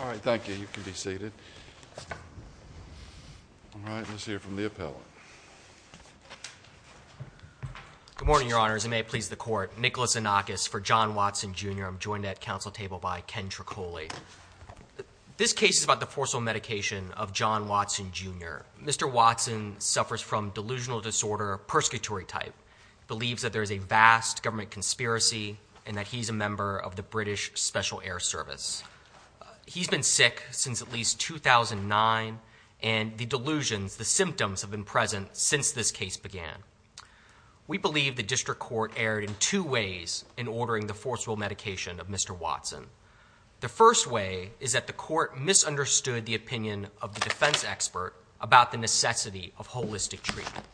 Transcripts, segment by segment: Alright, thank you. You can be seated. Alright, let's hear from the appellant. Good morning, Your Honors, and may it please the Court. Nicholas Anakis for John Watson, Jr. I'm joined at council table by Ken Triccoli. This case is about the forcible medication of John Watson, Jr. Mr. Watson suffers from delusional disorder, a persecutory type. He believes that there is a vast government conspiracy and that he's a member of the British Special Air Service. He's been sick since at least 2009, and the delusions, the symptoms have been present since this case began. We believe the district court erred in two ways in ordering the forcible medication of Mr. Watson. The first way is that the court misunderstood the opinion of the defense expert about the necessity of holistic treatment.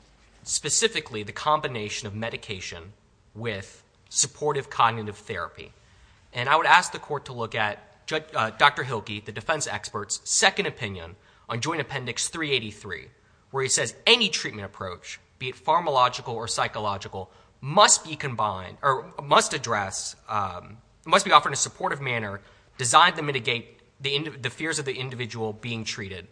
Specifically, the combination of medication with supportive cognitive therapy. And I would ask the court to look at Dr. Hilke, the defense expert's second opinion on Joint Appendix 383, where he says any treatment approach, be it pharmacological or psychological, must be combined, or must address, must be offered in a supportive manner designed to mitigate the fears of the individual being treated.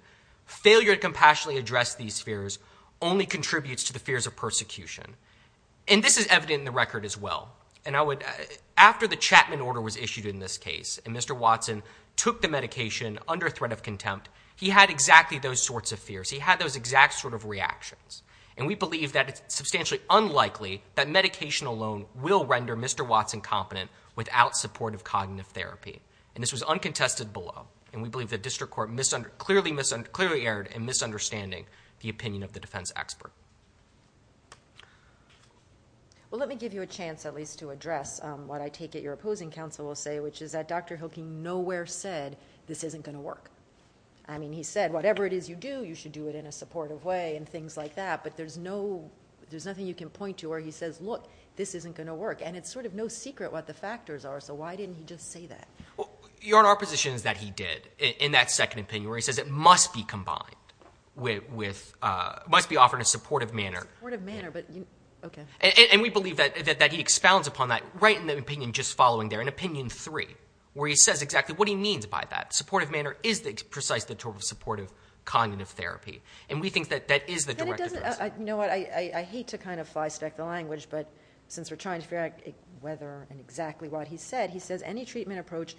Failure to compassionately address these fears only contributes to the fears of persecution. And this is evident in the record as well. After the Chapman order was issued in this case, and Mr. Watson took the medication under threat of contempt, he had exactly those sorts of fears. He had those exact sort of reactions. And we believe that it's substantially unlikely that medication alone will render Mr. Watson competent without supportive cognitive therapy. And this was uncontested below. And we believe the district court clearly erred in misunderstanding the opinion of the defense expert. Well, let me give you a chance at least to address what I take it your opposing counsel will say, which is that Dr. Hilke nowhere said, this isn't going to work. I mean, he said, whatever it is you do, you should do it in a supportive way and things like that. But there's nothing you can point to where he says, look, this isn't going to work. And it's sort of no secret what the factors are. So why didn't he just say that? Your opposition is that he did in that second opinion where he says it must be combined with, must be offered in a supportive manner. And we believe that he expounds upon that right in the opinion just following there, in opinion three, where he says exactly what he means by that. Supportive manner is precisely the tool of supportive cognitive therapy. And we think that that is the direct opposite. You know what, I hate to kind of fly stack the language, but since we're trying to figure out whether and exactly what he said, he says any treatment approach,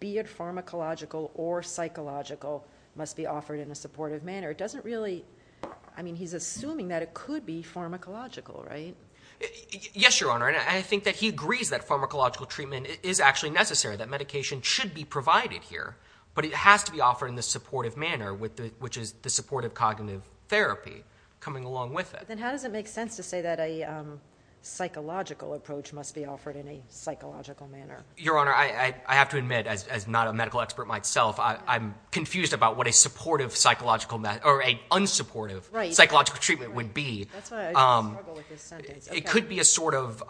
be it pharmacological or psychological, must be offered in a supportive manner. It doesn't really, I mean, he's assuming that it could be pharmacological, right? Yes, Your Honor. And I think that he agrees that pharmacological treatment is actually necessary, that medication should be provided here, but it has to be offered in the supportive manner, which is the supportive cognitive therapy coming along with it. Then how does it make sense to say that a psychological approach must be offered in a psychological manner? Your Honor, I have to admit, as not a medical expert myself, I'm confused about what a supportive psychological or an unsupportive psychological treatment would be. That's why I struggle with this sentence. It could be a sort of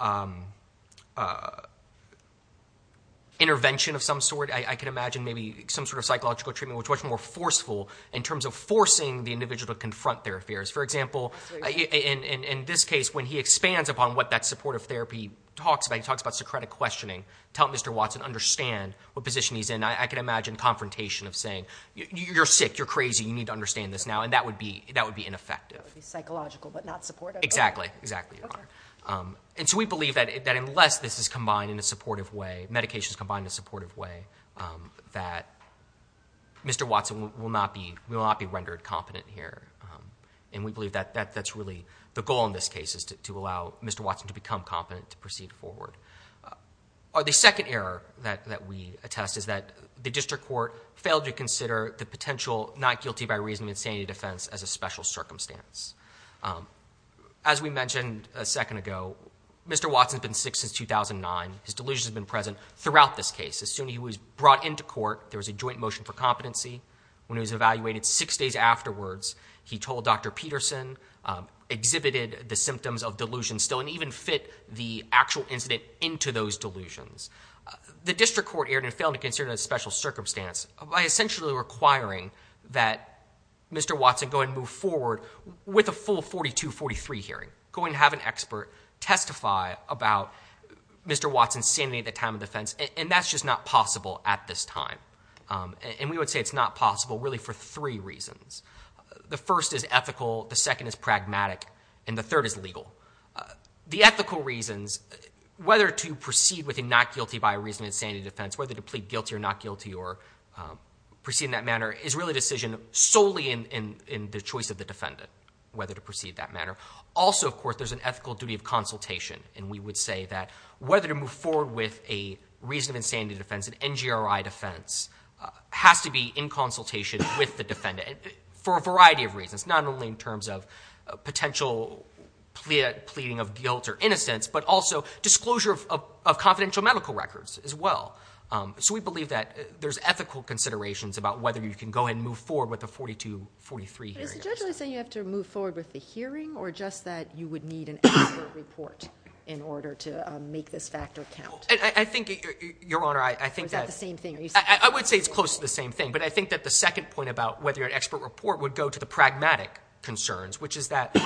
intervention of some sort. I can imagine maybe some sort of psychological treatment which is much more forceful in terms of forcing the individual to confront their fears. For example, in this case, when he expands upon what that supportive therapy talks about, he talks about Socratic questioning to help Mr. Watson understand what position he's in. I can imagine confrontation of saying, you're sick, you're crazy, you need to understand this now, and that would be ineffective. It would be psychological but not supportive. Exactly, exactly, Your Honor. We believe that unless this is combined in a supportive way, medications combined in a supportive way, that Mr. Watson will not be rendered competent here. We believe that that's really the goal in this case is to allow Mr. Watson to become competent to proceed forward. The second error that we attest is that the district court failed to consider the potential not guilty by reason of insanity defense as a special circumstance. As we mentioned a second ago, Mr. Watson's been sick since 2009. His delusions have been present throughout this case. As soon as he was brought into court, there was a joint motion for competency. When he was evaluated six days afterwards, he told Dr. Peterson, exhibited the symptoms of delusion still, and even fit the actual incident into those delusions. The district court erred and failed to consider it a special circumstance by essentially requiring that Mr. Watson go and move forward with a full 4243 hearing, go and have an expert testify about Mr. Watson's insanity at the time of defense, and that's just not possible at this time. And we would say it's not possible really for three reasons. The first is ethical, the second is pragmatic, and the third is legal. The ethical reasons, whether to proceed with a not guilty by reason of insanity defense, whether to plead guilty or not guilty or proceed in that manner, is really a decision solely in the choice of the defendant, whether to proceed in that manner. Also, of course, there's an ethical duty of consultation, and we would say that whether to move forward with a reason of insanity defense, an NGRI defense, has to be in consultation with the defendant for a variety of reasons, not only in terms of potential pleading of guilt or innocence, but also disclosure of confidential medical records as well. So we believe that there's ethical considerations about whether you can go and move forward with a 4243 hearing. But is the judge only saying you have to move forward with the hearing, or just that you would need an expert report in order to make this factor count? I think, Your Honor, I think that... Or is that the same thing? I would say it's close to the same thing, but I think that the second point about whether an expert report would go to the pragmatic concerns, which is that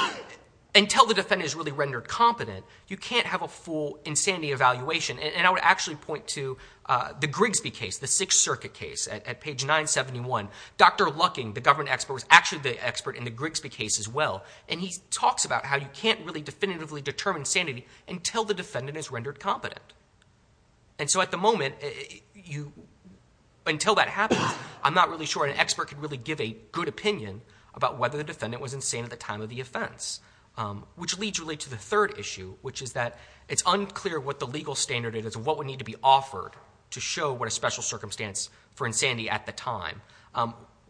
until the defendant is really rendered competent, you can't have a full insanity evaluation. And I would actually point to the Grigsby case, the Sixth Circuit case at page 971. Dr. Lucking, the government expert, was actually the expert in the Grigsby case as well, and he talks about how you can't really definitively determine insanity until the defendant is rendered competent. And so at the moment, until that happens, I'm not really sure an expert could really give a good opinion about whether the defendant was insane at the time of the offense, which leads really to the third issue, which is that it's unclear what the legal standard is and what would need to be offered to show what a special circumstance for insanity at the time.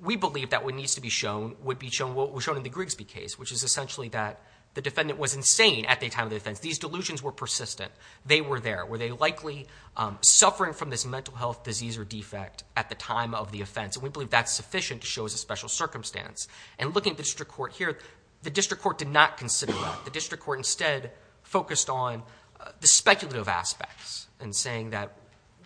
We believe that what needs to be shown would be shown in the Grigsby case, which is essentially that the defendant was insane at the time of the offense. These delusions were persistent. They were there. Were they likely suffering from this mental health disease or defect at the time of the offense? And we believe that's sufficient to show as a special circumstance. And looking at the district court here, the district court did not consider that. The district court instead focused on the speculative aspects and saying that,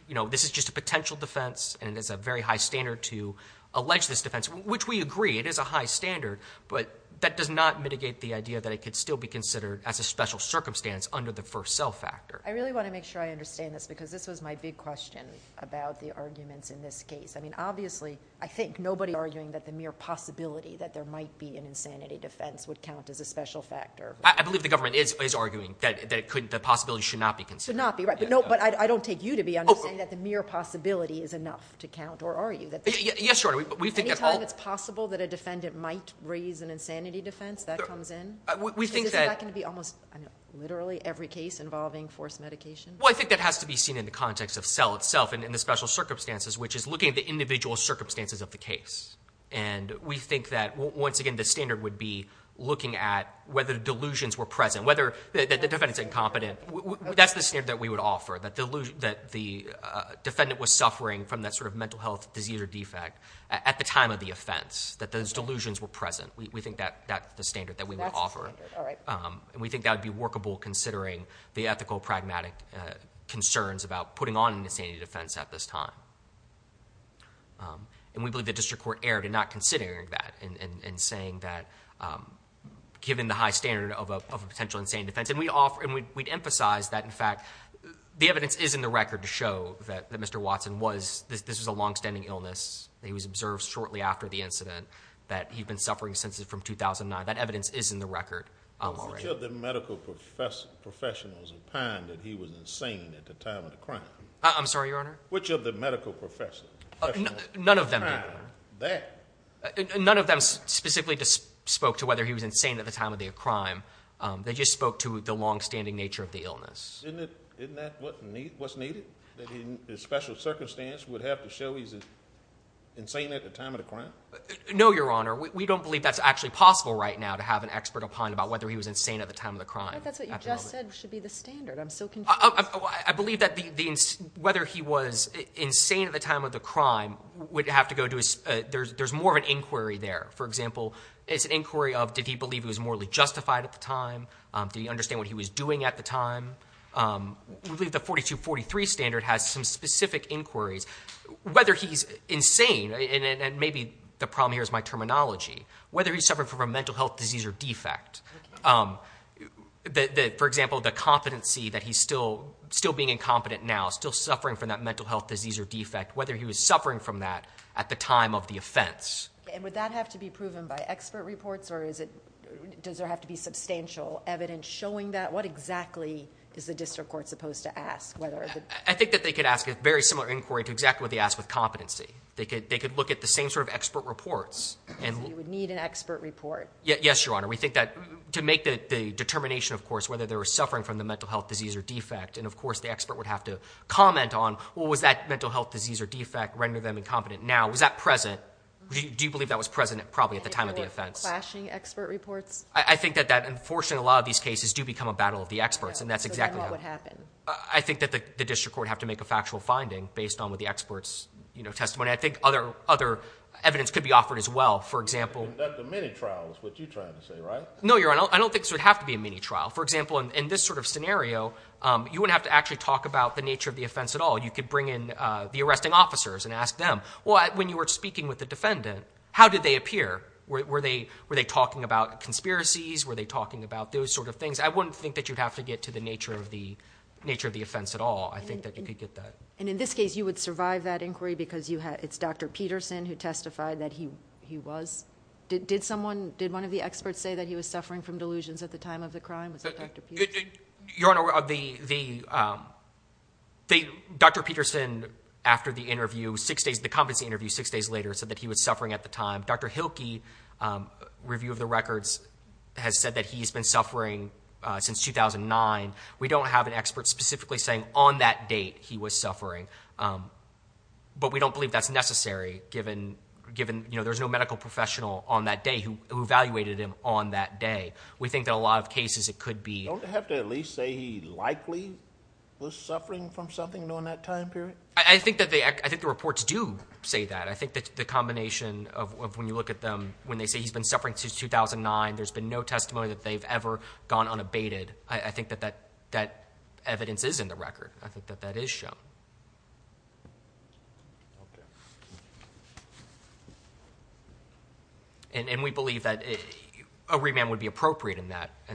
you know, this is just a potential defense and it is a very high standard to allege this defense, which we agree, it is a high standard, but that does not mitigate the idea that it could still be considered as a special circumstance under the first cell factor. I really want to make sure I understand this because this was my big question about the arguments in this case. I mean, obviously, I think nobody is arguing that the mere possibility that there might be an insanity defense would count as a special factor. I believe the government is arguing that the possibility should not be considered. Should not be, right. But I don't take you to be understanding that the mere possibility is enough to count, or are you? Yes, Your Honor. Any time it's possible that a defendant might raise an insanity defense, that comes in? We think that. Is that going to be almost literally every case involving forced medication? Well, I think that has to be seen in the context of cell itself and in the special circumstances, which is looking at the individual circumstances of the case. And we think that, once again, the standard would be looking at whether delusions were present, whether the defendant is incompetent. That's the standard that we would offer, that the defendant was suffering from that sort of mental health disease or defect at the time of the offense, that those delusions were present. We think that's the standard that we would offer. That's the standard, all right. And we think that would be workable considering the ethical, pragmatic concerns about putting on an insanity defense at this time. And we believe the district court erred in not considering that and saying that given the high standard of a potential insanity defense. And we'd emphasize that, in fact, the evidence is in the record to show that Mr. Watson was, this was a longstanding illness that he was observed shortly after the incident, that he'd been suffering since from 2009. That evidence is in the record already. Which of the medical professionals opined that he was insane at the time of the crime? I'm sorry, Your Honor? Which of the medical professionals opined that? None of them specifically spoke to whether he was insane at the time of the crime. They just spoke to the longstanding nature of the illness. Isn't that what's needed? That in special circumstances we'd have to show he's insane at the time of the crime? No, Your Honor. We don't believe that's actually possible right now to have an expert opine about whether he was insane at the time of the crime. But that's what you just said should be the standard. I'm so confused. I believe that whether he was insane at the time of the crime would have to go to his, there's more of an inquiry there. For example, it's an inquiry of did he believe he was morally justified at the time? Did he understand what he was doing at the time? I believe the 4243 standard has some specific inquiries. Whether he's insane, and maybe the problem here is my terminology, whether he's suffering from a mental health disease or defect. For example, the competency that he's still being incompetent now, still suffering from that mental health disease or defect, whether he was suffering from that at the time of the offense. And would that have to be proven by expert reports? Or does there have to be substantial evidence showing that? What exactly is the district court supposed to ask? I think that they could ask a very similar inquiry to exactly what they asked with competency. They could look at the same sort of expert reports. So you would need an expert report? Yes, Your Honor. We think that to make the determination, of course, whether they were suffering from the mental health disease or defect, and of course the expert would have to comment on, well, was that mental health disease or defect? Render them incompetent now? Was that present? Do you believe that was present probably at the time of the offense? Clashing expert reports? I think that, unfortunately, a lot of these cases do become a battle of the experts, and that's exactly how. So then what would happen? I think that the district court would have to make a factual finding based on the expert's testimony. I think other evidence could be offered as well. Conduct a mini-trial is what you're trying to say, right? No, Your Honor. I don't think this would have to be a mini-trial. For example, in this sort of scenario, you wouldn't have to actually talk about the nature of the offense at all. You could bring in the arresting officers and ask them, well, when you were speaking with the defendant, how did they appear? Were they talking about conspiracies? Were they talking about those sort of things? I wouldn't think that you'd have to get to the nature of the offense at all. I think that you could get that. And in this case, you would survive that inquiry because it's Dr. Peterson who testified that he was. Did one of the experts say that he was suffering from delusions at the time of the crime? Was that Dr. Peterson? Your Honor, Dr. Peterson, after the interview, the competency interview six days later, said that he was suffering at the time. Dr. Hilke, review of the records, has said that he's been suffering since 2009. We don't have an expert specifically saying on that date he was suffering, but we don't believe that's necessary given there's no medical professional on that day who evaluated him on that day. We think that in a lot of cases it could be. Don't they have to at least say he likely was suffering from something during that time period? I think the reports do say that. I think that the combination of when you look at them, when they say he's been suffering since 2009, there's been no testimony that they've ever gone unabated, I think that that evidence is in the record. I think that that is shown. Okay. And we believe that a remand would be appropriate in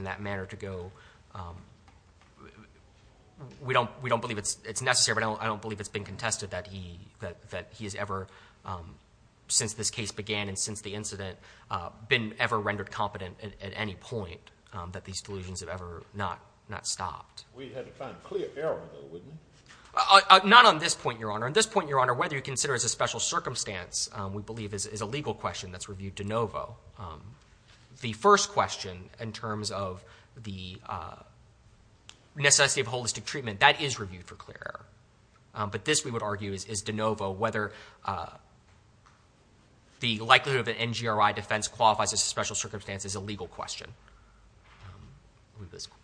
that manner to go. We don't believe it's necessary, but I don't believe it's been contested that he has ever, since this case began and since the incident, been ever rendered competent at any point, that these delusions have ever not stopped. We'd have to find a clear error, though, wouldn't we? Not on this point, Your Honor. On this point, Your Honor, whether you consider it as a special circumstance, we believe is a legal question that's reviewed de novo. The first question in terms of the necessity of holistic treatment, that is reviewed for clear error. But this, we would argue, is de novo, whether the likelihood of an NGRI defense qualifies as a special circumstance is a legal question.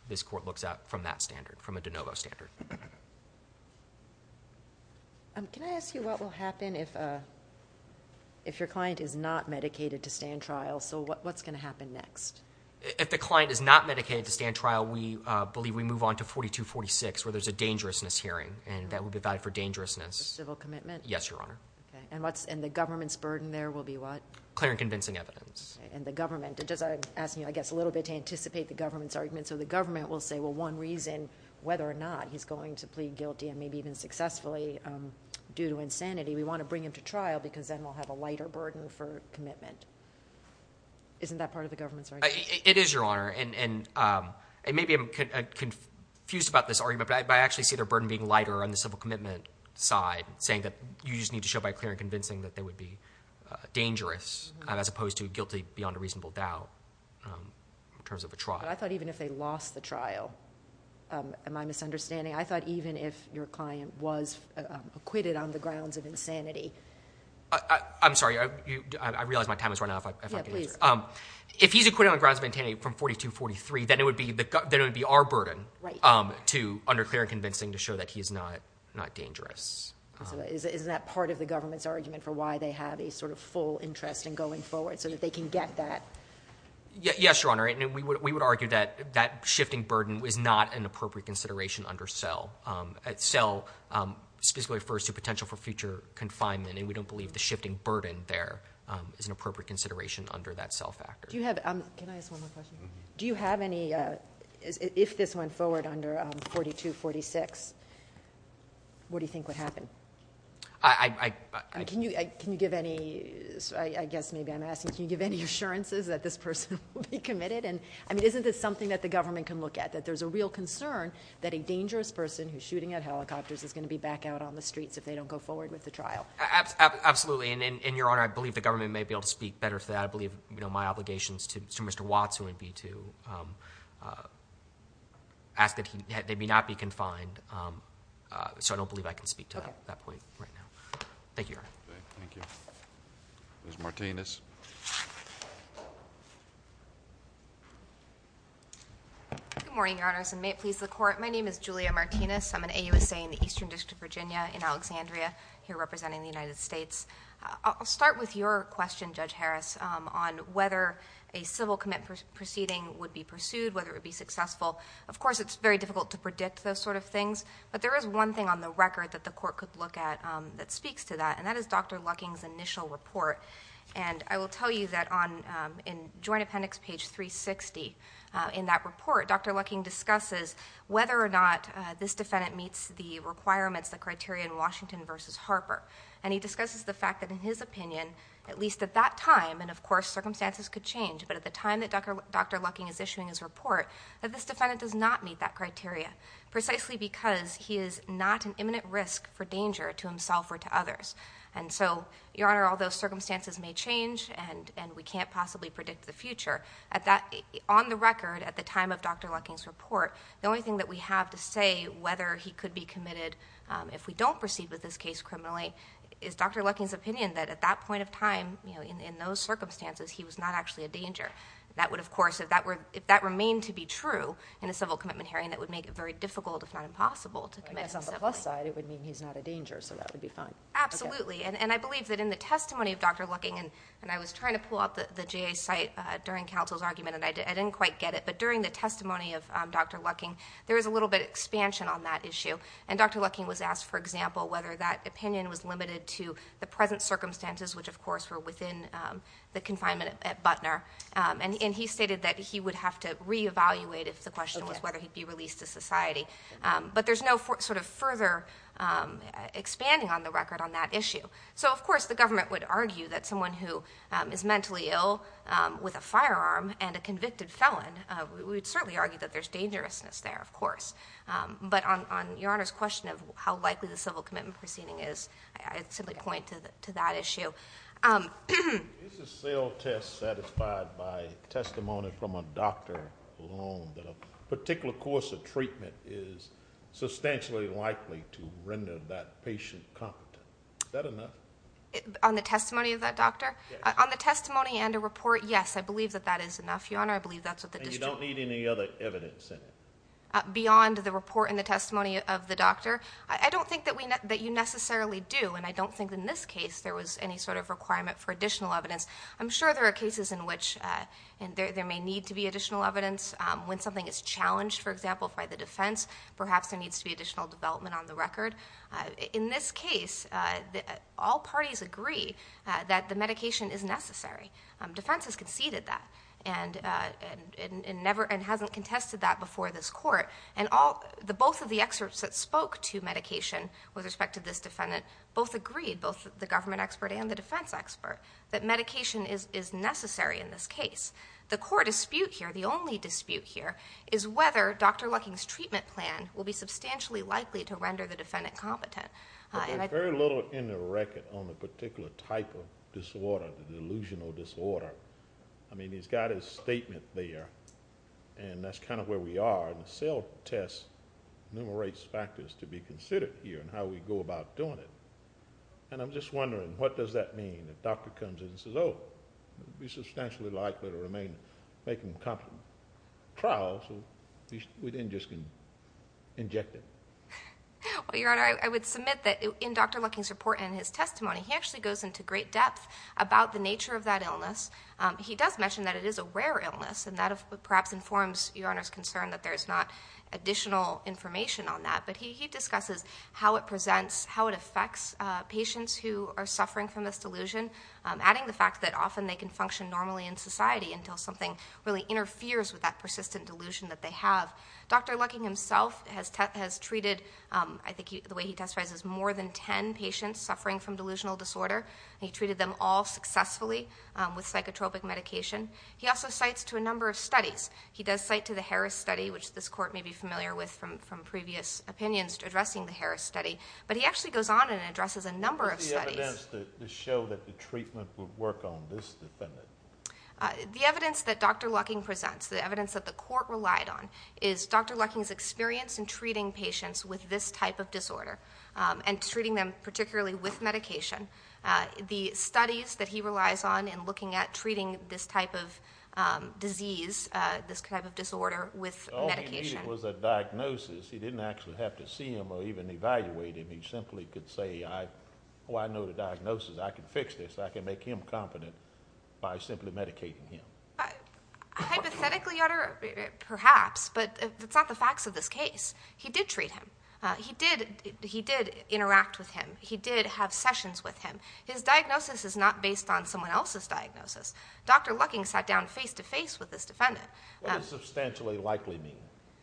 This court looks at it from that standard, from a de novo standard. Can I ask you what will happen if your client is not medicated to stand trial? So what's going to happen next? If the client is not medicated to stand trial, we believe we move on to 4246, where there's a dangerousness hearing, and that would be valid for dangerousness. A civil commitment? Yes, Your Honor. And the government's burden there will be what? Clear and convincing evidence. And the government. I'm asking you, I guess, a little bit to anticipate the government's argument. So the government will say, well, one reason whether or not he's going to plead guilty and maybe even successfully due to insanity, we want to bring him to trial because then we'll have a lighter burden for commitment. Isn't that part of the government's argument? It is, Your Honor. And maybe I'm confused about this argument, but I actually see their burden being lighter on the civil commitment side, saying that you just need to show by clear and convincing that they would be dangerous as opposed to guilty beyond a reasonable doubt in terms of a trial. But I thought even if they lost the trial, am I misunderstanding? I thought even if your client was acquitted on the grounds of insanity. I'm sorry, I realize my time is running out. Yeah, please. If he's acquitted on the grounds of insanity from 4243, then it would be our burden to under clear and convincing to show that he's not dangerous. So isn't that part of the government's argument for why they have a sort of full interest in going forward so that they can get that? Yes, Your Honor. We would argue that that shifting burden is not an appropriate consideration under cell. Cell specifically refers to potential for future confinement, and we don't believe the shifting burden there is an appropriate consideration under that cell factor. Can I ask one more question? Do you have any, if this went forward under 4246, what do you think would happen? Can you give any, I guess maybe I'm asking, can you give any assurances that this person will be committed? I mean, isn't this something that the government can look at, that there's a real concern that a dangerous person who's shooting at helicopters is going to be back out on the streets if they don't go forward with the trial? Absolutely, and Your Honor, I believe the government may be able to speak better to that. I believe my obligations to Mr. Watts would be to ask that they may not be confined. So I don't believe I can speak to that point right now. Thank you, Your Honor. Thank you. Ms. Martinez. Good morning, Your Honors, and may it please the Court. My name is Julia Martinez. I'm an AUSA in the Eastern District of Virginia in Alexandria, here representing the United States. I'll start with your question, Judge Harris, on whether a civil commit proceeding would be pursued, whether it would be successful. Of course, it's very difficult to predict those sort of things, but there is one thing on the record that the Court could look at that speaks to that, and that is Dr. Lucking's initial report. And I will tell you that in Joint Appendix, page 360, in that report, Dr. Lucking discusses whether or not this defendant meets the requirements, the criteria in Washington v. Harper, and he discusses the fact that in his opinion, at least at that time, and of course circumstances could change, but at the time that Dr. Lucking is issuing his report, that this defendant does not meet that criteria, precisely because he is not an imminent risk for danger to himself or to others. And so, Your Honor, although circumstances may change and we can't possibly predict the future, on the record, at the time of Dr. Lucking's report, the only thing that we have to say whether he could be committed if we don't proceed with this case criminally, is Dr. Lucking's opinion that at that point of time, in those circumstances, he was not actually a danger. That would, of course, if that remained to be true in a civil commitment hearing, that would make it very difficult, if not impossible, to commit. I guess on the plus side, it would mean he's not a danger, so that would be fine. Absolutely. And I believe that in the testimony of Dr. Lucking, and I was trying to pull up the JA's site during counsel's argument, and I didn't quite get it, but during the testimony of Dr. Lucking, there was a little bit of expansion on that issue. And Dr. Lucking was asked, for example, whether that opinion was limited to the present circumstances, which, of course, were within the confinement at Butner, and he stated that he would have to reevaluate if the question was whether he'd be released to society. But there's no sort of further expanding on the record on that issue. So, of course, the government would argue that someone who is mentally ill with a firearm and a convicted felon, we would certainly argue that there's dangerousness there, of course. But on Your Honor's question of how likely the civil commitment proceeding is, I'd simply point to that issue. Is the cell test satisfied by testimony from a doctor alone that a particular course of treatment is substantially likely to render that patient competent? Is that enough? On the testimony of that doctor? Yes. On the testimony and a report, yes, I believe that that is enough, Your Honor. I believe that's what the district... And you don't need any other evidence in it? Beyond the report and the testimony of the doctor? I don't think that you necessarily do, and I don't think in this case there was any sort of requirement for additional evidence. I'm sure there are cases in which there may need to be additional evidence. When something is challenged, for example, by the defense, perhaps there needs to be additional development on the record. In this case, all parties agree that the medication is necessary. Defense has conceded that and hasn't contested that before this court, and both of the experts that spoke to medication with respect to this defendant both agreed, both the government expert and the defense expert, that medication is necessary in this case. The core dispute here, the only dispute here, is whether Dr. Lucking's treatment plan will be substantially likely to render the defendant competent. But there's very little in the record on the particular type of disorder, the delusional disorder. I mean, he's got his statement there, and that's kind of where we are. And the cell test enumerates factors to be considered here and how we go about doing it. And I'm just wondering, what does that mean? The doctor comes in and says, oh, it would be substantially likely to make him competent. So we then just can inject it. Well, Your Honor, I would submit that in Dr. Lucking's report and his testimony, he actually goes into great depth about the nature of that illness. He does mention that it is a rare illness, and that perhaps informs Your Honor's concern that there's not additional information on that. But he discusses how it presents, how it affects patients who are suffering from this delusion, adding the fact that often they can function normally in society until something really interferes with that persistent delusion that they have. Dr. Lucking himself has treated, I think the way he testifies, is more than ten patients suffering from delusional disorder, and he treated them all successfully with psychotropic medication. He also cites to a number of studies. He does cite to the Harris study, which this Court may be familiar with from previous opinions addressing the Harris study. But he actually goes on and addresses a number of studies. What's the evidence to show that the treatment would work on this defendant? The evidence that Dr. Lucking presents, the evidence that the Court relied on, is Dr. Lucking's experience in treating patients with this type of disorder and treating them particularly with medication. The studies that he relies on in looking at treating this type of disease, this type of disorder, with medication. All he needed was a diagnosis. He didn't actually have to see him or even evaluate him. He simply could say, oh, I know the diagnosis. I can fix this. I can make him confident by simply medicating him. Hypothetically, Your Honor, perhaps, but that's not the facts of this case. He did treat him. He did interact with him. He did have sessions with him. His diagnosis is not based on someone else's diagnosis. Dr. Lucking sat down face-to-face with this defendant. What does substantially likely mean?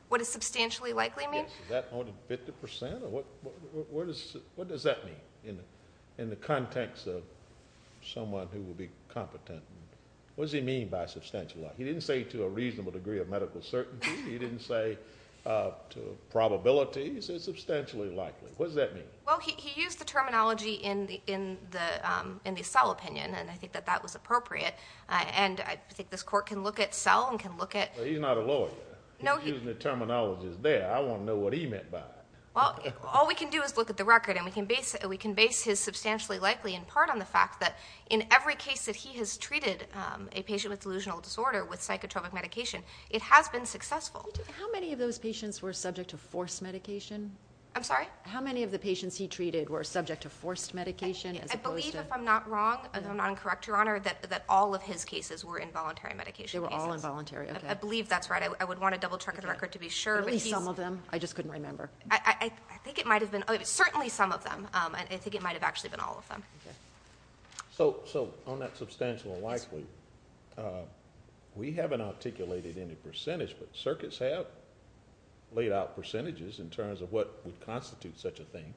What does substantially likely mean? Is that more than 50%? What does that mean in the context of someone who will be competent? What does he mean by substantially likely? He didn't say to a reasonable degree of medical certainty. He didn't say to probabilities. He said substantially likely. What does that mean? Well, he used the terminology in the Sell opinion, and I think that that was appropriate. And I think this Court can look at Sell and can look at ñ Well, he's not a lawyer. He's using the terminologies there. I want to know what he meant by it. Well, all we can do is look at the record, and we can base his substantially likely in part on the fact that in every case that he has treated a patient with delusional disorder with psychotropic medication, it has been successful. How many of those patients were subject to forced medication? I'm sorry? How many of the patients he treated were subject to forced medication? I believe, if I'm not wrong, if I'm not incorrect, Your Honor, that all of his cases were involuntary medication cases. They were all involuntary, okay. I believe that's right. I would want to double-check the record to be sure. At least some of them. I just couldn't remember. I think it might have been ñ certainly some of them. I think it might have actually been all of them. So, on that substantial likely, we haven't articulated any percentage, but circuits have laid out percentages in terms of what would constitute such a thing.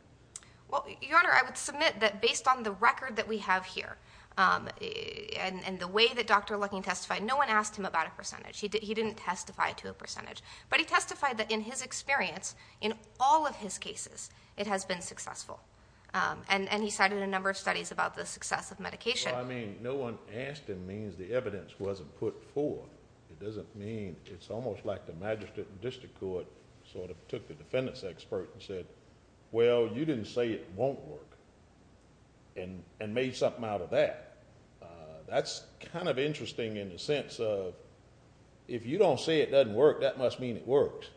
Well, Your Honor, I would submit that based on the record that we have here and the way that Dr. Lucking testified, no one asked him about a percentage. He didn't testify to a percentage. But he testified that in his experience, in all of his cases, it has been successful. And he cited a number of studies about the success of medication. Well, I mean, no one asked him means the evidence wasn't put forth. It doesn't mean ñ it's almost like the magistrate and district court sort of took the defendant's expert and said, well, you didn't say it won't work and made something out of that. That's kind of interesting in the sense of if you don't say it doesn't work, that must mean it worked.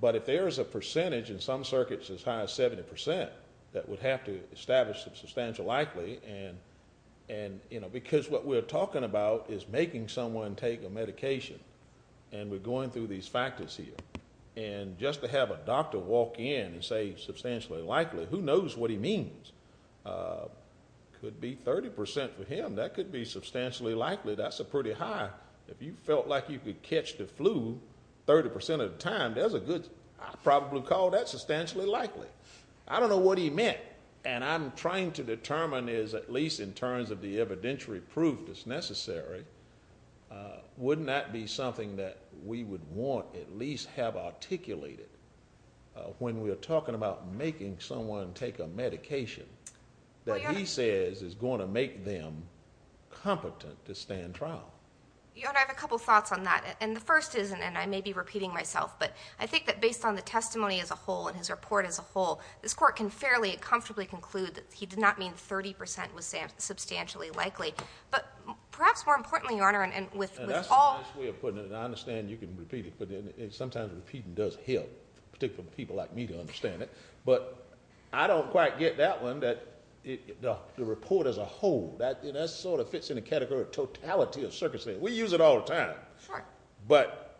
But if there is a percentage in some circuits as high as 70 percent that would have to establish substantial likely, because what we're talking about is making someone take a medication, and we're going through these factors here. And just to have a doctor walk in and say substantially likely, who knows what he means? It could be 30 percent for him. That could be substantially likely. That's a pretty high. If you felt like you could catch the flu 30 percent of the time, that's a good ñ I'd probably call that substantially likely. I don't know what he meant, and I'm trying to determine, at least in terms of the evidentiary proof that's necessary, wouldn't that be something that we would want at least have articulated when we're talking about making someone take a medication that he says is going to make them competent to stand trial? Your Honor, I have a couple thoughts on that. And the first is, and I may be repeating myself, but I think that based on the testimony as a whole and his report as a whole, this court can fairly comfortably conclude that he did not mean 30 percent was substantially likely. But perhaps more importantly, Your Honor, and with all ñ That's a nice way of putting it, and I understand you can repeat it, but sometimes repeating does help, particularly for people like me to understand it. But I don't quite get that one, that the report as a whole, that sort of fits in the category of totality of circumstance. We use it all the time. But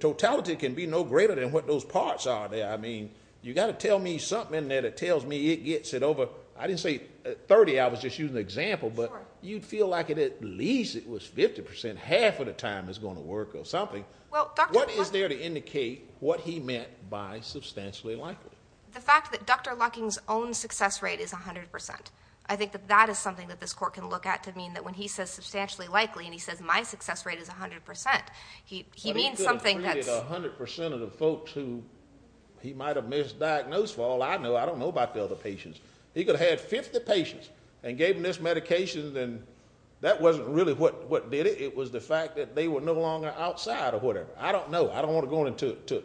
totality can be no greater than what those parts are there. I mean, you've got to tell me something in there that tells me it gets it over. I didn't say 30, I was just using an example, but you'd feel like at least it was 50 percent, half of the time it's going to work or something. What is there to indicate what he meant by substantially likely? The fact that Dr. Lucking's own success rate is 100 percent. I think that that is something that this court can look at to mean that when he says substantially likely and he says my success rate is 100 percent, he means something that's ñ He could have treated 100 percent of the folks who he might have misdiagnosed. For all I know, I don't know about the other patients. He could have had 50 patients and gave them this medication, and that wasn't really what did it. It was the fact that they were no longer outside or whatever. I don't know. I don't want to go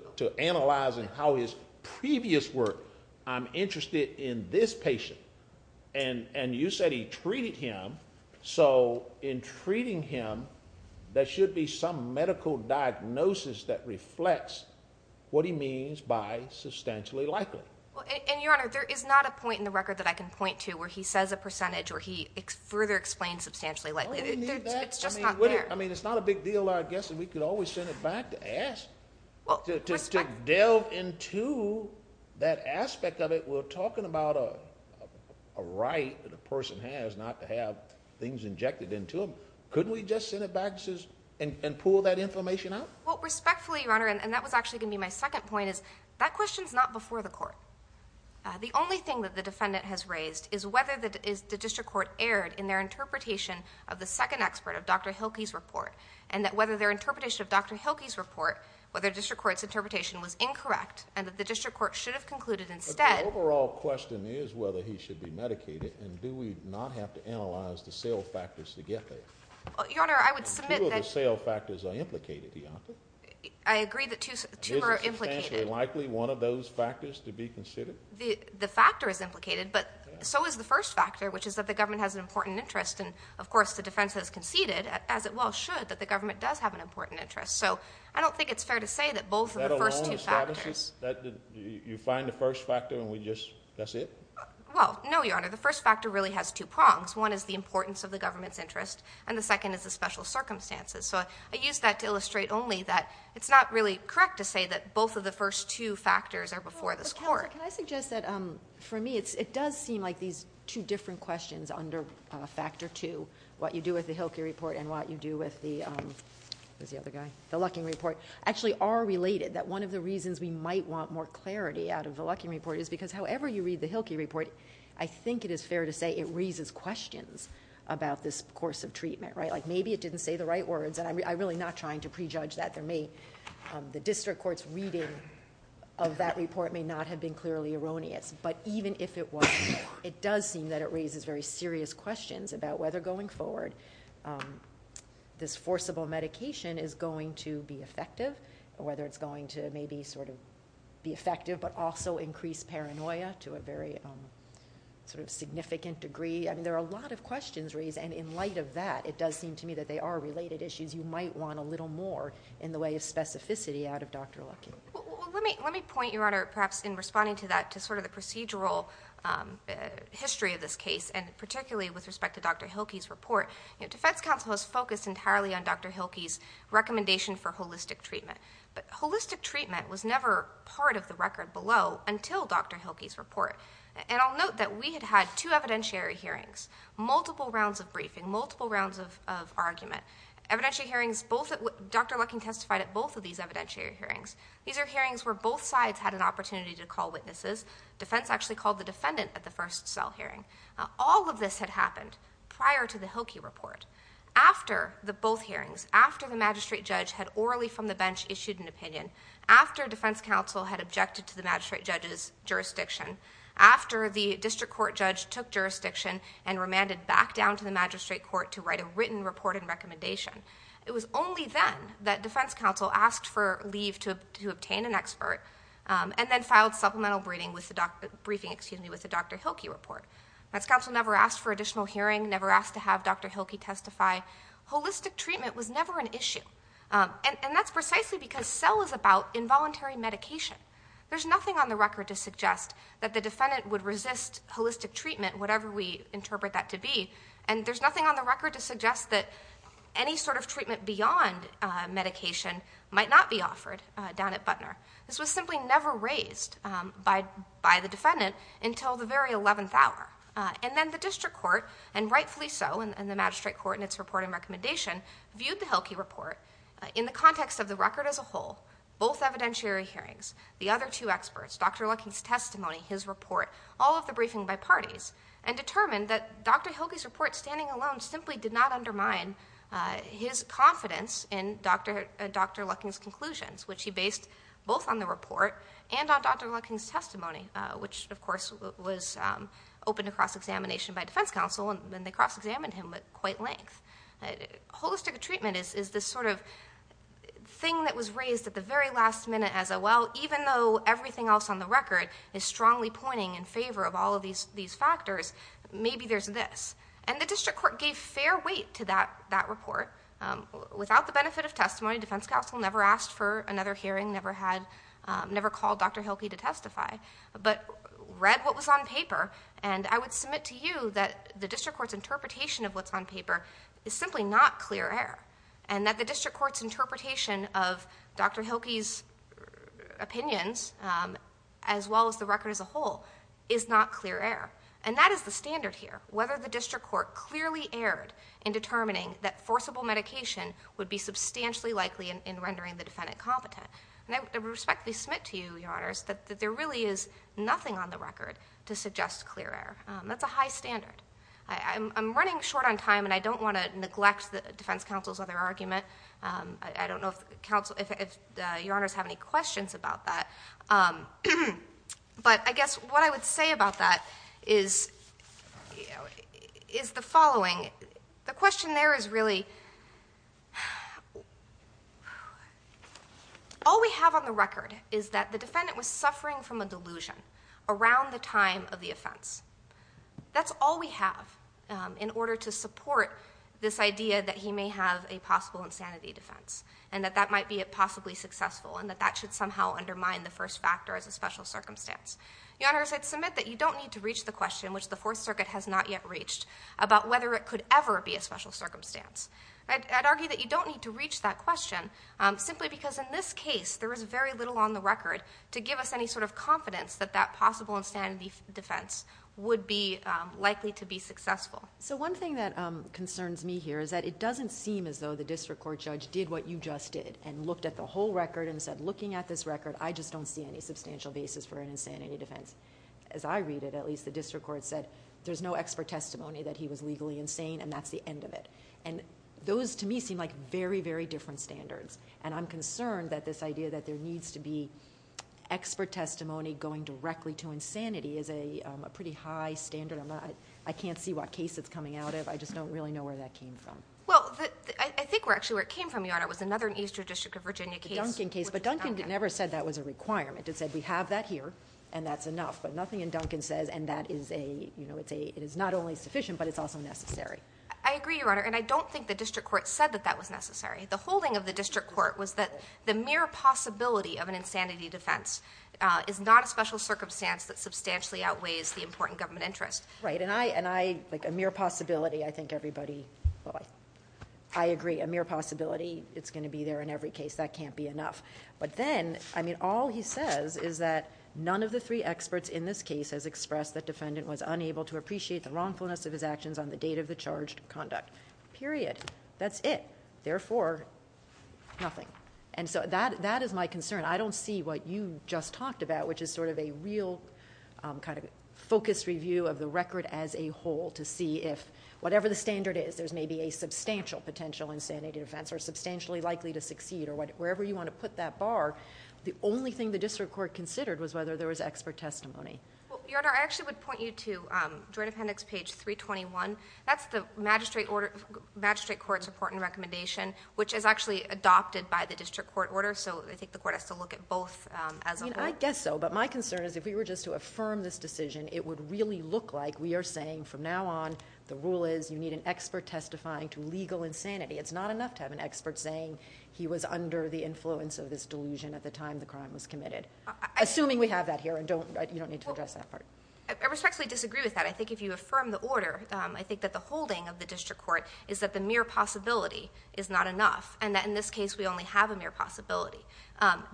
into analyzing how his previous work. I'm interested in this patient, and you said he treated him. So in treating him, there should be some medical diagnosis that reflects what he means by substantially likely. Your Honor, there is not a point in the record that I can point to where he says a percentage or he further explains substantially likely. Do we need that? It's just not there. It's not a big deal, I guess, and we could always send it back to ask. To delve into that aspect of it, we're talking about a right that a person has not to have things injected into them. Couldn't we just send it back and pull that information out? Respectfully, Your Honor, and that was actually going to be my second point, is that question's not before the court. The only thing that the defendant has raised is whether the district court erred in their interpretation of the second expert of Dr. Hilke's report, and that whether their interpretation of Dr. Hilke's report, whether district court's interpretation was incorrect, and that the district court should have concluded instead. But the overall question is whether he should be medicated, and do we not have to analyze the cell factors to get there? Your Honor, I would submit that. Two of the cell factors are implicated, Your Honor. I agree that two are implicated. Is it substantially likely one of those factors to be considered? The factor is implicated, but so is the first factor, which is that the government has an important interest, and, of course, the defense has conceded, as it well should, that the government does have an important interest. So I don't think it's fair to say that both of the first two factors. That alone establishes that you find the first factor and we just, that's it? Well, no, Your Honor. The first factor really has two prongs. One is the importance of the government's interest, and the second is the special circumstances. So I use that to illustrate only that it's not really correct to say that both of the first two factors are before this court. Your Honor, can I suggest that, for me, it does seem like these two different questions under factor two, what you do with the Hilke report and what you do with the Lucking report, actually are related, that one of the reasons we might want more clarity out of the Lucking report is because however you read the Hilke report, I think it is fair to say it raises questions about this course of treatment. Like maybe it didn't say the right words, and I'm really not trying to prejudge that. The district court's reading of that report may not have been clearly erroneous, but even if it was, it does seem that it raises very serious questions about whether going forward this forcible medication is going to be effective, or whether it's going to maybe sort of be effective, but also increase paranoia to a very sort of significant degree. I mean, there are a lot of questions raised, and in light of that, it does seem to me that they are related issues. You might want a little more in the way of specificity out of Dr. Lucking. Well, let me point, Your Honor, perhaps in responding to that, to sort of the procedural history of this case, and particularly with respect to Dr. Hilke's report. Defense counsel has focused entirely on Dr. Hilke's recommendation for holistic treatment, but holistic treatment was never part of the record below until Dr. Hilke's report. And I'll note that we had had two evidentiary hearings, multiple rounds of briefing, multiple rounds of argument. Dr. Lucking testified at both of these evidentiary hearings. These are hearings where both sides had an opportunity to call witnesses. Defense actually called the defendant at the first cell hearing. All of this had happened prior to the Hilke report. After the both hearings, after the magistrate judge had orally from the bench issued an opinion, after defense counsel had objected to the magistrate judge's jurisdiction, after the district court judge took jurisdiction and remanded back down to the magistrate court to write a written report and recommendation, it was only then that defense counsel asked for leave to obtain an expert and then filed supplemental briefing with the Dr. Hilke report. Defense counsel never asked for additional hearing, never asked to have Dr. Hilke testify. Holistic treatment was never an issue. And that's precisely because cell is about involuntary medication. There's nothing on the record to suggest that the defendant would resist holistic treatment whatever we interpret that to be, and there's nothing on the record to suggest that any sort of treatment beyond medication might not be offered down at Butner. This was simply never raised by the defendant until the very 11th hour. And then the district court, and rightfully so, and the magistrate court in its report and recommendation, viewed the Hilke report in the context of the record as a whole, both evidentiary hearings, the other two experts, Dr. Lucking's testimony, his report, all of the briefing by parties, and determined that Dr. Hilke's report standing alone simply did not undermine his confidence in Dr. Lucking's conclusions, which he based both on the report and on Dr. Lucking's testimony, which, of course, was opened to cross-examination by defense counsel, and then they cross-examined him at quite length. Holistic treatment is this sort of thing that was raised at the very last minute as a, well, even though everything else on the record is strongly pointing in favor of all of these factors, maybe there's this. And the district court gave fair weight to that report. Without the benefit of testimony, defense counsel never asked for another hearing, never called Dr. Hilke to testify, but read what was on paper, and I would submit to you that the district court's interpretation of what's on paper is simply not clear air, and that the district court's interpretation of Dr. Hilke's opinions, as well as the record as a whole, is not clear air. And that is the standard here, whether the district court clearly erred in determining that forcible medication would be substantially likely in rendering the defendant competent. And I respectfully submit to you, Your Honors, that there really is nothing on the record to suggest clear air. That's a high standard. I'm running short on time, and I don't want to neglect the defense counsel's other argument. I don't know if Your Honors have any questions about that. But I guess what I would say about that is the following. The question there is really all we have on the record is that the defendant was suffering from a delusion around the time of the offense. That's all we have in order to support this idea that he may have a possible insanity defense and that that might be possibly successful and that that should somehow undermine the first factor as a special circumstance. Your Honors, I'd submit that you don't need to reach the question, which the Fourth Circuit has not yet reached, about whether it could ever be a special circumstance. I'd argue that you don't need to reach that question simply because in this case, there is very little on the record to give us any sort of confidence that that possible insanity defense would be likely to be successful. So one thing that concerns me here is that it doesn't seem as though the district court judge did what you just did and looked at the whole record and said, looking at this record, I just don't see any substantial basis for an insanity defense. As I read it, at least, the district court said there's no expert testimony that he was legally insane and that's the end of it. And those, to me, seem like very, very different standards. And I'm concerned that this idea that there needs to be expert testimony going directly to insanity is a pretty high standard. I can't see what case it's coming out of. I just don't really know where that came from. Well, I think actually where it came from, Your Honor, was another Eastern District of Virginia case. The Duncan case. But Duncan never said that was a requirement. It said we have that here, and that's enough. But nothing in Duncan says, and that is a, you know, it is not only sufficient, but it's also necessary. I agree, Your Honor. And I don't think the district court said that that was necessary. The holding of the district court was that the mere possibility of an insanity defense is not a special circumstance that substantially outweighs the important government interest. Right. And I, like, a mere possibility, I think everybody, well, I agree, a mere possibility, it's going to be there in every case. That can't be enough. But then, I mean, all he says is that none of the three experts in this case has expressed that defendant was unable to appreciate the wrongfulness of his actions on the date of the charged conduct. Period. That's it. Therefore, nothing. And so that is my concern. I don't see what you just talked about, which is sort of a real kind of focused review of the record as a whole to see if whatever the standard is, there's maybe a substantial potential insanity defense or substantially likely to succeed or wherever you want to put that bar. The only thing the district court considered was whether there was expert testimony. Well, Your Honor, I actually would point you to Joint Appendix page 321. That's the magistrate court's report and recommendation, which is actually adopted by the district court order. So I think the court has to look at both as a whole. I mean, I guess so. But my concern is if we were just to affirm this decision, it would really look like we are saying from now on the rule is you need an expert testifying to legal insanity. It's not enough to have an expert saying he was under the influence of this delusion at the time the crime was committed. Assuming we have that here, you don't need to address that part. I respectfully disagree with that. I think if you affirm the order, I think that the holding of the district court is that the mere possibility is not enough. And that in this case, we only have a mere possibility.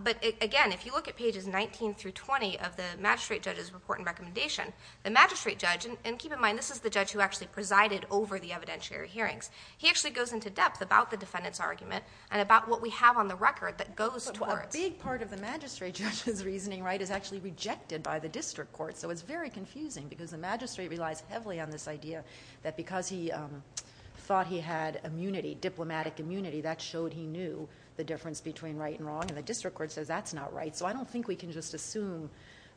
But, again, if you look at pages 19 through 20 of the magistrate judge's report and recommendation, the magistrate judge, and keep in mind this is the judge who actually presided over the evidentiary hearings, he actually goes into depth about the defendant's argument and about what we have on the record that goes towards. But a big part of the magistrate judge's reasoning, right, is actually rejected by the district court. So it's very confusing because the magistrate relies heavily on this idea that because he thought he had immunity, diplomatic immunity, that showed he knew the difference between right and wrong. And the district court says that's not right. So I don't think we can just assume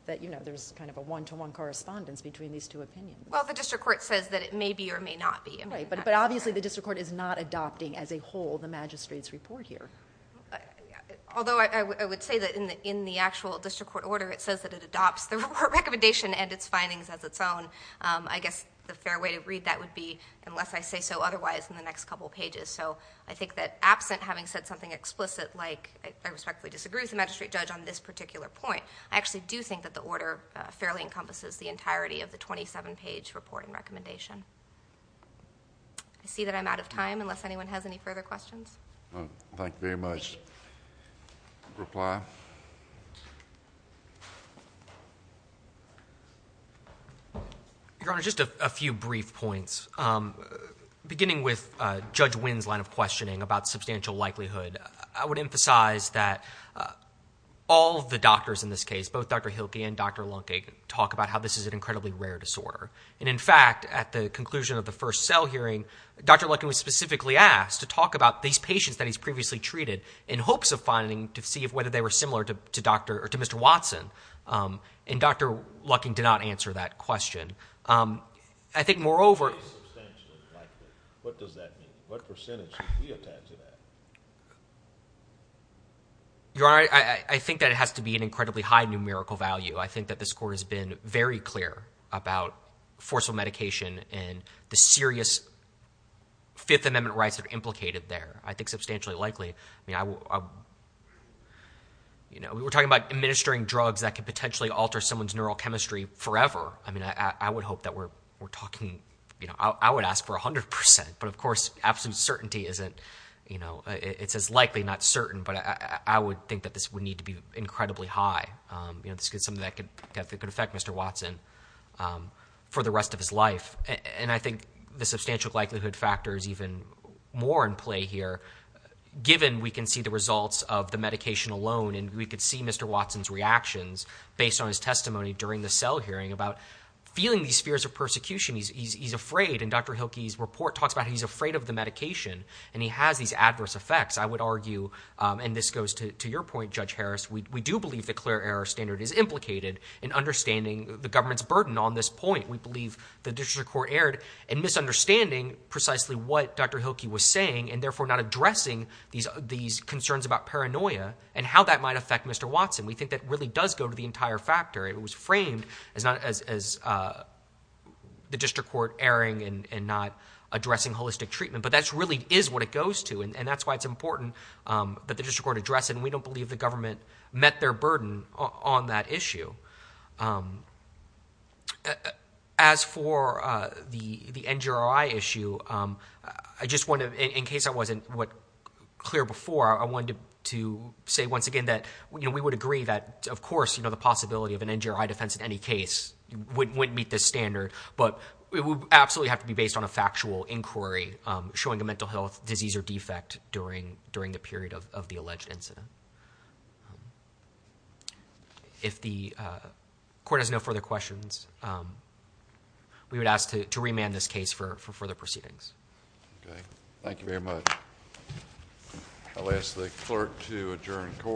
that, you know, there's kind of a one-to-one correspondence between these two opinions. Well, the district court says that it may be or may not be. Right, but obviously the district court is not adopting as a whole the magistrate's report here. Although I would say that in the actual district court order, it says that it adopts the report recommendation and its findings as its own. I guess the fair way to read that would be unless I say so otherwise in the next couple pages. So I think that absent having said something explicit like I respectfully disagree with the magistrate judge on this particular point, I actually do think that the order fairly encompasses the entirety of the 27-page reporting recommendation. I see that I'm out of time unless anyone has any further questions. Thank you very much. Thank you. Reply. Your Honor, just a few brief points. Beginning with Judge Wynne's line of questioning about substantial likelihood, I would emphasize that all of the doctors in this case, both Dr. Hilke and Dr. Lucking, talk about how this is an incredibly rare disorder. And, in fact, at the conclusion of the first cell hearing, Dr. Lucking was specifically asked to talk about these patients that he's previously treated in hopes of finding to see whether they were similar to Mr. Watson. And Dr. Lucking did not answer that question. I think, moreover, What does that mean? What percentage should be attached to that? Your Honor, I think that it has to be an incredibly high numerical value. I think that this Court has been very clear about forceful medication and the serious Fifth Amendment rights that are implicated there. I think substantially likely. We're talking about administering drugs that could potentially alter someone's neurochemistry forever. I mean, I would hope that we're talking, you know, I would ask for 100 percent, but, of course, absolute certainty isn't, you know, it's as likely, not certain, but I would think that this would need to be incredibly high. You know, this is something that could affect Mr. Watson for the rest of his life. And I think the substantial likelihood factor is even more in play here, given we can see the results of the medication alone and we could see Mr. Watson's reactions based on his testimony during the cell hearing about feeling these fears of persecution. He's afraid, and Dr. Hilkey's report talks about he's afraid of the medication, and he has these adverse effects. I would argue, and this goes to your point, Judge Harris, we do believe the clear error standard is implicated in understanding the government's burden on this point. We believe the District Court erred in misunderstanding precisely what Dr. Hilkey was saying and therefore not addressing these concerns about paranoia and how that might affect Mr. Watson. We think that really does go to the entire factor. It was framed as the District Court erring and not addressing holistic treatment, but that really is what it goes to, and that's why it's important that the District Court address it, and we don't believe the government met their burden on that issue. As for the NGRI issue, I just want to, in case I wasn't clear before, I wanted to say once again that we would agree that, of course, the possibility of an NGRI defense in any case wouldn't meet this standard, but it would absolutely have to be based on a factual inquiry showing a mental health disease or defect during the period of the alleged incident. If the Court has no further questions, we would ask to remand this case for further proceedings. Thank you very much. I'll ask the Clerk to adjourn the Court.